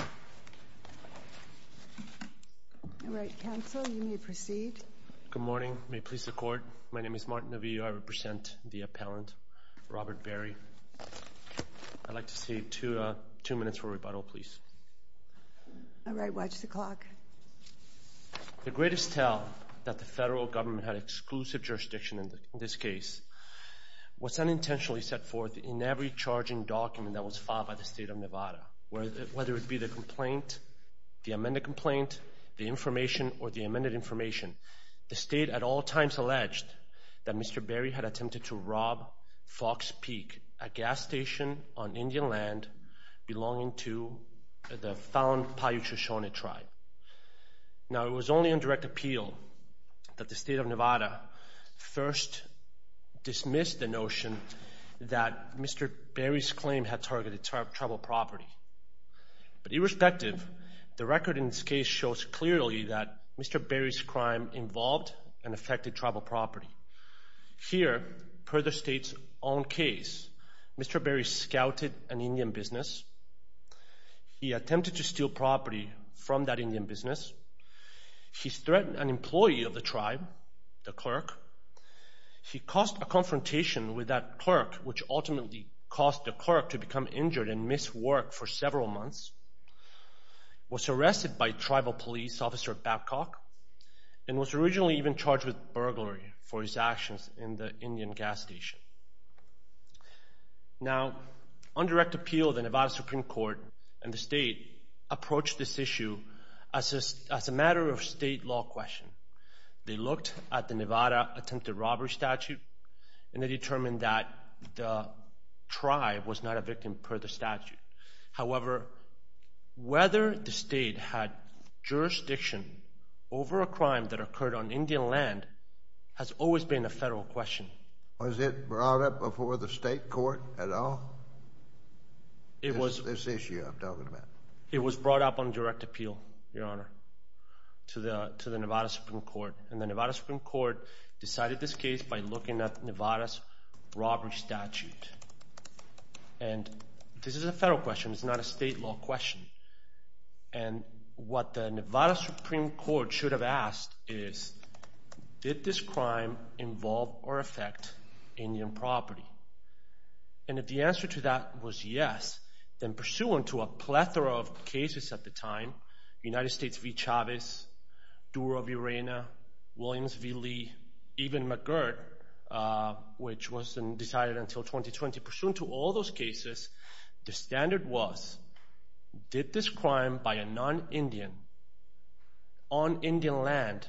All right, counsel, you may proceed. Good morning. May it please the Court, my name is Martin Naviglio. I represent the appellant, Robert Berry. I'd like to see two minutes for rebuttal, please. All right, watch the clock. The greatest tell that the federal government had exclusive jurisdiction in this case was unintentionally set forth in every charging document that was filed by the state of Nevada, whether it be the complaint, the amended complaint, the information, or the amended information. The state at all times alleged that Mr. Berry had attempted to rob Fox Peak, a gas station on Indian land belonging to the found Paiute Shoshone tribe. Now it was only on direct appeal that the state of Nevada first dismissed the notion that Mr. Berry's claim had targeted tribal property. But irrespective, the record in this case shows clearly that Mr. Berry's crime involved and affected tribal property. Here, per the state's own case, Mr. Berry scouted an Indian business. He attempted to steal property from that Indian business. He threatened an employee of the tribe, the clerk. He caused a confrontation with that clerk, which ultimately caused the clerk to become injured and miss work for several months, was arrested by tribal police officer Babcock, and was originally even charged with burglary for his actions in the Indian gas station. Now, on direct appeal, the Nevada Supreme Court and the state approached this issue as a matter of state law question. They looked at the Nevada attempted robbery statute and they determined that the tribe was not a victim per the statute. However, whether the state had jurisdiction over a crime that occurred on Indian land has always been a federal question. Was it brought up before the state court at all? It was brought up on direct appeal, Your Honor, to the Nevada Supreme Court. And the Nevada Supreme Court decided this case by looking at Nevada's robbery statute. And this is a federal question, it's not a state law question. And what the Nevada Supreme Court should have asked is, did this crime involve or affect Indian property? And if the answer to that was yes, then pursuant to a plethora of cases at the time, United States v. Chavez, Dura v. even McGirt, which wasn't decided until 2020, pursuant to all those cases, the standard was did this crime by a non-Indian on Indian land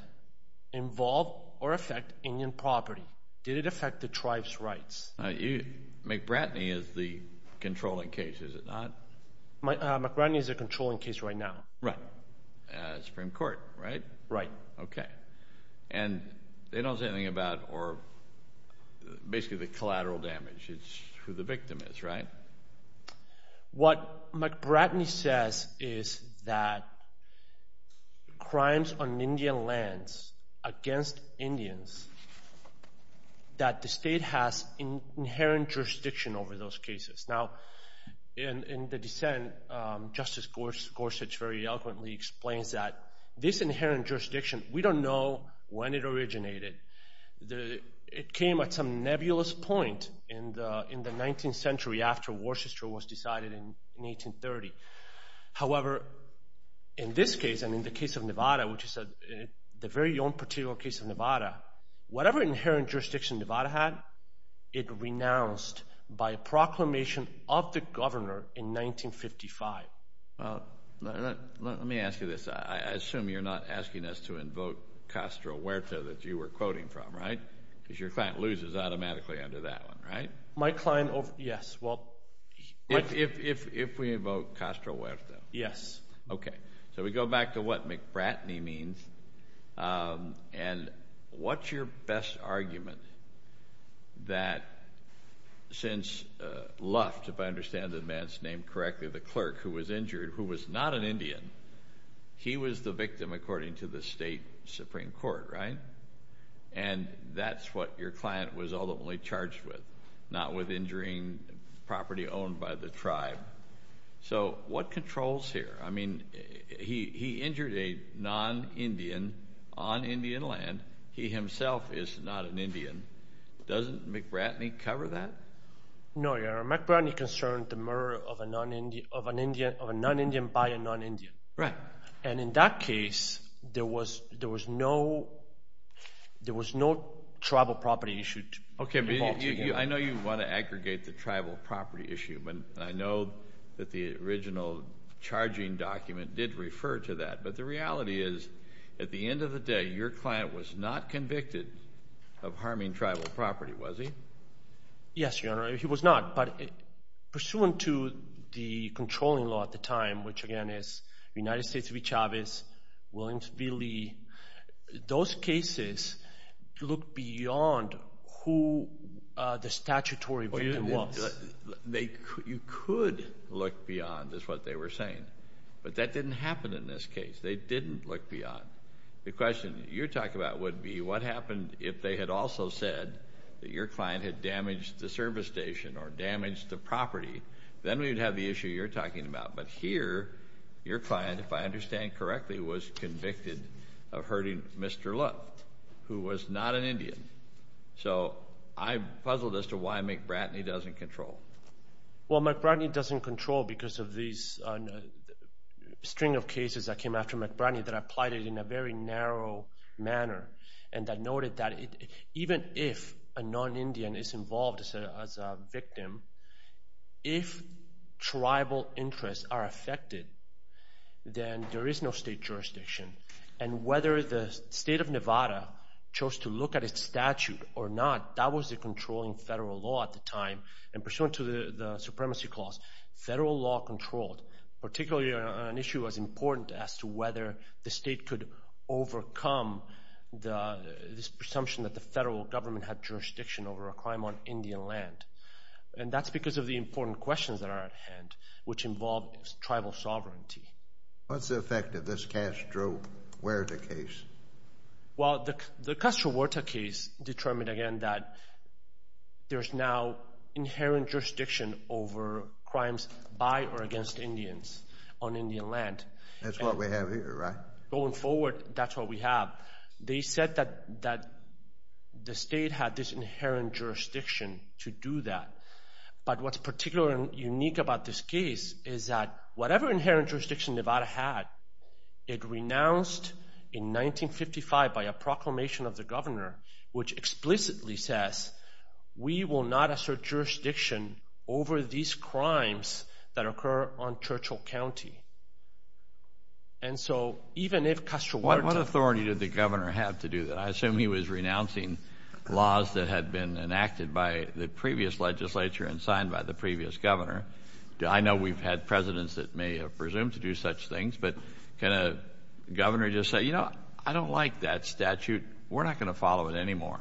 involve or affect Indian property? Did it affect the tribe's rights? McBratney is the controlling case, is it not? McBratney is the controlling case right now. Right. Supreme Court, right? Right. Okay. And they don't say anything about basically the collateral damage, it's who the victim is, right? What McBratney says is that crimes on Indian lands against Indians, that the state has inherent jurisdiction over those cases. Now, in the dissent, Justice Gorsuch very eloquently explains that this inherent jurisdiction, we don't know when it originated. It came at some nebulous point in the 19th century after Worcester was decided in 1830. However, in this case, and in the case of Nevada, which is the very own particular case of Nevada, whatever inherent jurisdiction Nevada had, it renounced by a proclamation of the governor in 1955. Let me ask you this. I assume you're not asking us to invoke Castro Huerta that you were quoting from, right? Because your client loses automatically under that one, right? Yes. If we invoke Castro Huerta. Yes. Okay. So we go back to what McBratney means and what's your best argument that since Luft, if I understand the man's name correctly, the clerk who was injured, who was not an Indian, he was the victim according to the state Supreme Court, right? And that's what your client was ultimately charged with, not with injuring property owned by the tribe. So what controls here? I mean, he injured a non-Indian on Indian land. He himself is not an Indian. Doesn't McBratney cover that? No, Your Honor. McBratney concerned the murder of a non-Indian by a non-Indian. Right. And in that case there was no tribal property issue. Okay. I know you want to aggregate the tribal property issue, but I know that the original charging document did refer to that. But the reality is at the end of the day, your client was not convicted of harming tribal property, was he? Yes, Your Honor. He was not, but pursuant to the controlling law at the time, which again is United States v. Chavez, Williams v. Lee, those cases look beyond who the statutory victim was. You could look beyond is what they were saying, but that didn't happen in this case. They didn't look beyond. The question you're talking about would be what happened if they had also said that your client had damaged the service station or damaged the property? Then we'd have the issue you're talking about. But here, your client, if I understand correctly, was convicted of hurting Mr. Love, who was not an Indian. So I'm puzzled as to why McBratney doesn't control. Well, McBratney doesn't control because of these string of cases that came after McBratney that applied it in a very narrow manner and that noted that even if a non-Indian is involved as a victim, if tribal interests are affected, then there is no state jurisdiction. And whether the state of Nevada chose to look at its statute or not, that was the controlling federal law at the time. And pursuant to the supremacy clause, federal law controlled, particularly an issue as important as to whether the state could overcome this presumption that the federal government had jurisdiction over a crime on Indian land. And that's because of the important questions that are at hand, which involve tribal sovereignty. What's the effect of this Castro Huerta case? Well, the Castro Huerta case determined again that there's now inherent jurisdiction over crimes by or against Indians on Indian land. That's what we have here, right? Going forward, that's what we have. They said that the state had this inherent jurisdiction to do that. But what's particular and unique about this case is that whatever inherent jurisdiction Nevada had, it renounced in 1955 by a proclamation of the governor which explicitly says, we will not assert jurisdiction over these crimes that occur on Churchill County. And so, even if Castro Huerta... What authority did the governor have to do that? I assume he was renouncing laws that had been enacted by the previous legislature and signed by the previous governor. I know we've had presidents that may have presumed to do such things, but can a governor just say, you know, I don't like that statute. We're not going to follow it anymore.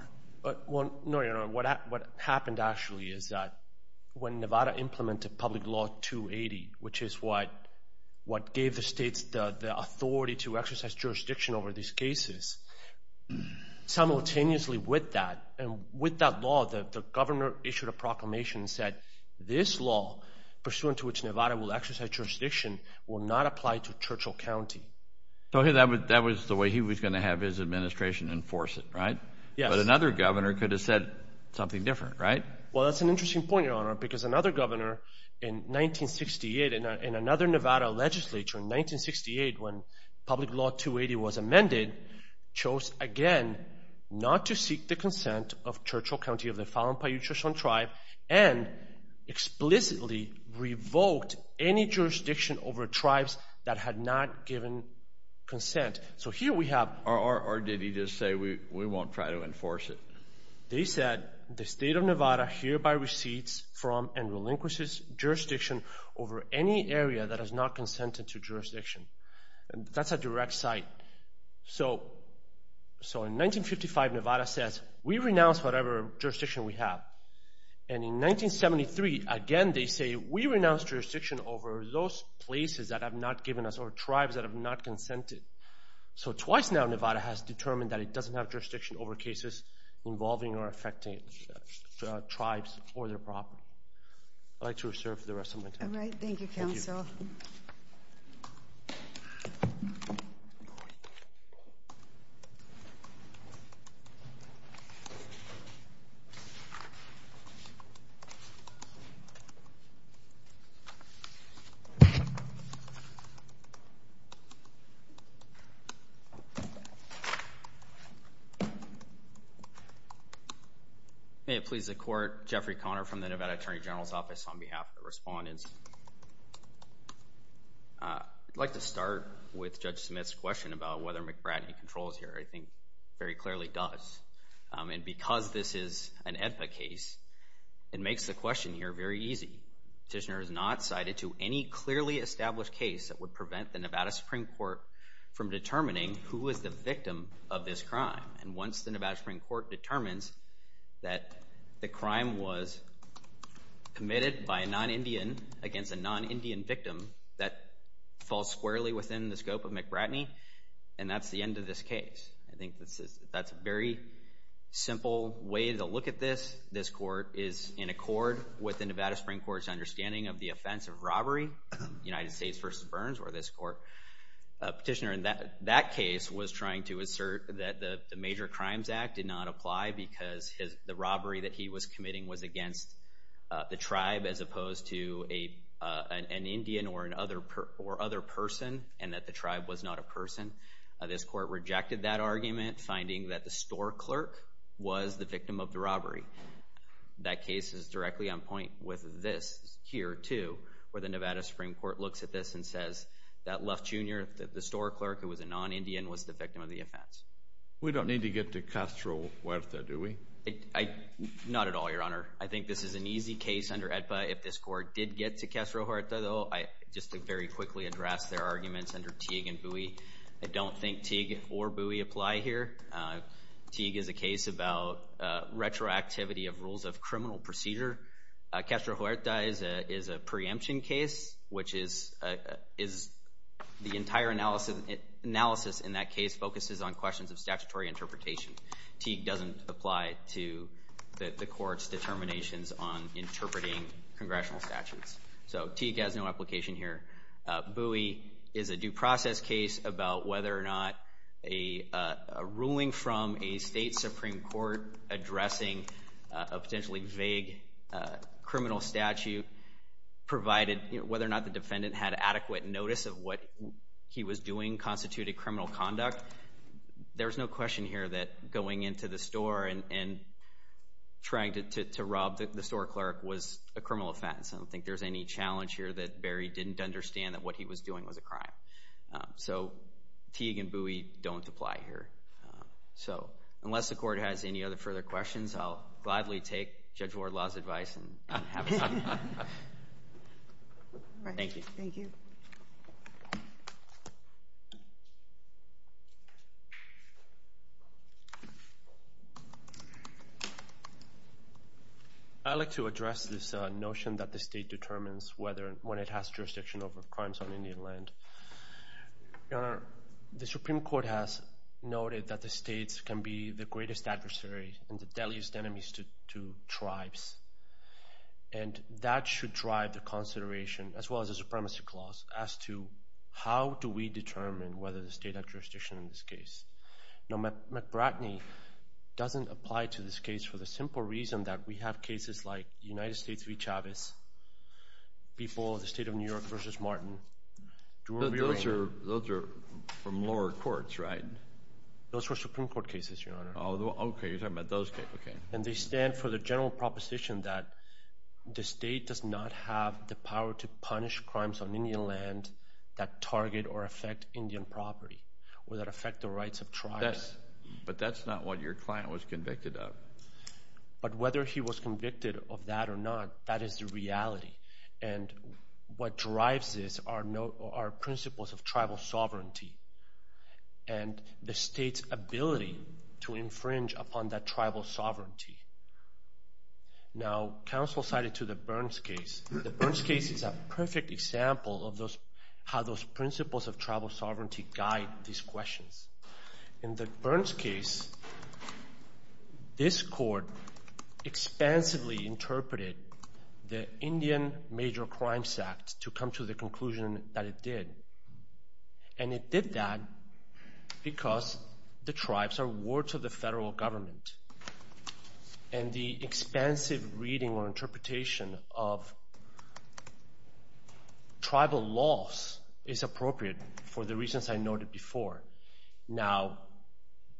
No, what happened actually is that when Nevada implemented Public Law 280, which is what gave the states the authority to exercise jurisdiction over these cases, simultaneously with that, and with that law, the governor issued a proclamation that said, this law, pursuant to which Nevada will exercise jurisdiction, will not apply to Churchill County. So that was the way he was going to have his administration enforce it, right? Yes. But another governor could have said something different, right? Well, that's an interesting point, Your Honor, because another governor in 1968 and another Nevada legislature in 1968, when Public Law 280 was amended, chose again not to seek the consent of Churchill County of the Fallon-Paiutechoshan Tribe, and explicitly revoked any jurisdiction over tribes that had not given consent. So here we have... Or did he just say, we won't try to enforce it? They said, the state of Nevada hereby receives from and relinquishes jurisdiction over any area that has not consented to jurisdiction. That's a direct cite. So in 1955, Nevada says, we renounce whatever jurisdiction we have. And in 1973, again, they say we renounce jurisdiction over those places that have not given us, or tribes that have not consented. So twice now, Nevada has determined that it doesn't have jurisdiction over cases involving or affecting tribes or their property. I'd like to reserve for the rest of my time. All right. Thank you, Counsel. May it please the Court, Jeffrey Conner from the Nevada Attorney General's Office on behalf of the respondents. I'd like to start with Judge Smith's question about whether McBrady controls here. I think very clearly does. And because this is an AEDPA case, it makes the question here very easy. Petitioner has not cited to any clearly established case that would prevent the Nevada Supreme Court from determining who was the victim of this crime. And once the Nevada Supreme Court determines that the crime was committed by a non-Indian against a non-Indian victim, that falls squarely within the scope of McBrady. And that's the end of this case. I think that's a very simple way to look at this. This Court is in accord with the Nevada Supreme Court's understanding of the offense of robbery, United States v. Burns, or this Court. Petitioner in that case was trying to assert that the Major Crimes Act did not apply because the robbery that he was committing was against the tribe as opposed to an Indian or other person, and that the tribe was not a person. This Court rejected that argument, finding that the store clerk was the victim of the robbery. That case is directly on point with this here, too, where the Nevada Supreme Court looks at this and says that Luff Jr., the store clerk who was a non-Indian, was the victim of the offense. We don't need to get to Castro Huerta, do we? Not at all, Your Honor. I think this is an easy case under AEDPA. If this Court did get to Castro Huerta, though, just to very quickly address their arguments under Teague and Bowie, I don't think Teague or Bowie apply here. Teague is a case about retroactivity of rules of criminal procedure. Castro Huerta is a preemption case, which is the entire analysis in that case focuses on questions of statutory interpretation. Teague doesn't apply to the Court's determinations on interpreting Congressional statutes. So Teague has no application here. Bowie is a due process case about whether or not a ruling from a State Supreme Court addressing a potentially vague criminal statute provided whether or not the defendant had adequate notice of what he was doing constituted criminal conduct. There's no question here that going into the store and trying to rob the store clerk was a criminal offense. I don't think there's any challenge here that Berry didn't understand that what he was doing was a crime. So Teague and Bowie don't apply here. So unless the Court has any other further questions, I'll gladly take Judge Wardlaw's advice. Thank you. I'd like to address this notion that the State determines when it has jurisdiction over crimes on Indian land. The Supreme Court has noted that the States can be the greatest adversary and the deadliest enemies to tribes. And that should drive the consideration, as well as the supremacy clause, as to how do we determine whether the State has jurisdiction in this case. Now McBratney doesn't apply to this case for the simple reason that we have cases like the United States v. Chavez, people of the State of New York v. Martin. Those are from lower courts, right? Those were Supreme Court cases, Your Honor. And they stand for the general proposition that the State does not have the power to punish crimes on Indian land that target or affect Indian property or that affect the rights of tribes. But that's not what your client was convicted of. But whether he was convicted of that or not, that is the reality. And what drives this are principles of tribal sovereignty. And the State's ability to infringe upon that tribal sovereignty. Now, counsel cited to the Burns case. The Burns case is a perfect example of how those principles of tribal sovereignty guide these questions. In the Burns case, this court expansively interpreted the Indian Major Crimes Act to come to the conclusion that it did. And it did that because the tribes are wards of the federal government. And the expansive reading or interpretation of tribal laws is appropriate for the reasons I noted before. Now,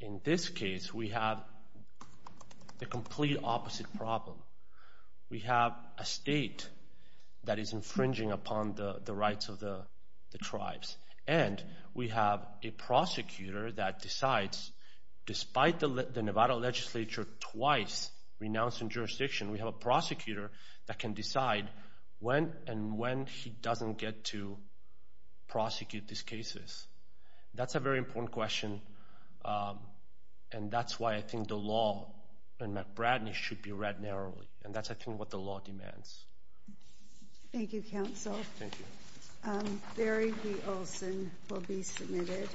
in this case, we have the complete opposite problem. We have a state that is infringing upon the rights of the tribes. And we have a prosecutor that decides, despite the Nevada legislature twice renouncing jurisdiction, we have a prosecutor that can decide when and when he doesn't get to prosecute these cases. That's a very important question. And that's why I think the law in McBradden should be read narrowly. And that's, I think, what the law demands. Thank you, Counsel. Barry B. Olson will be submitted.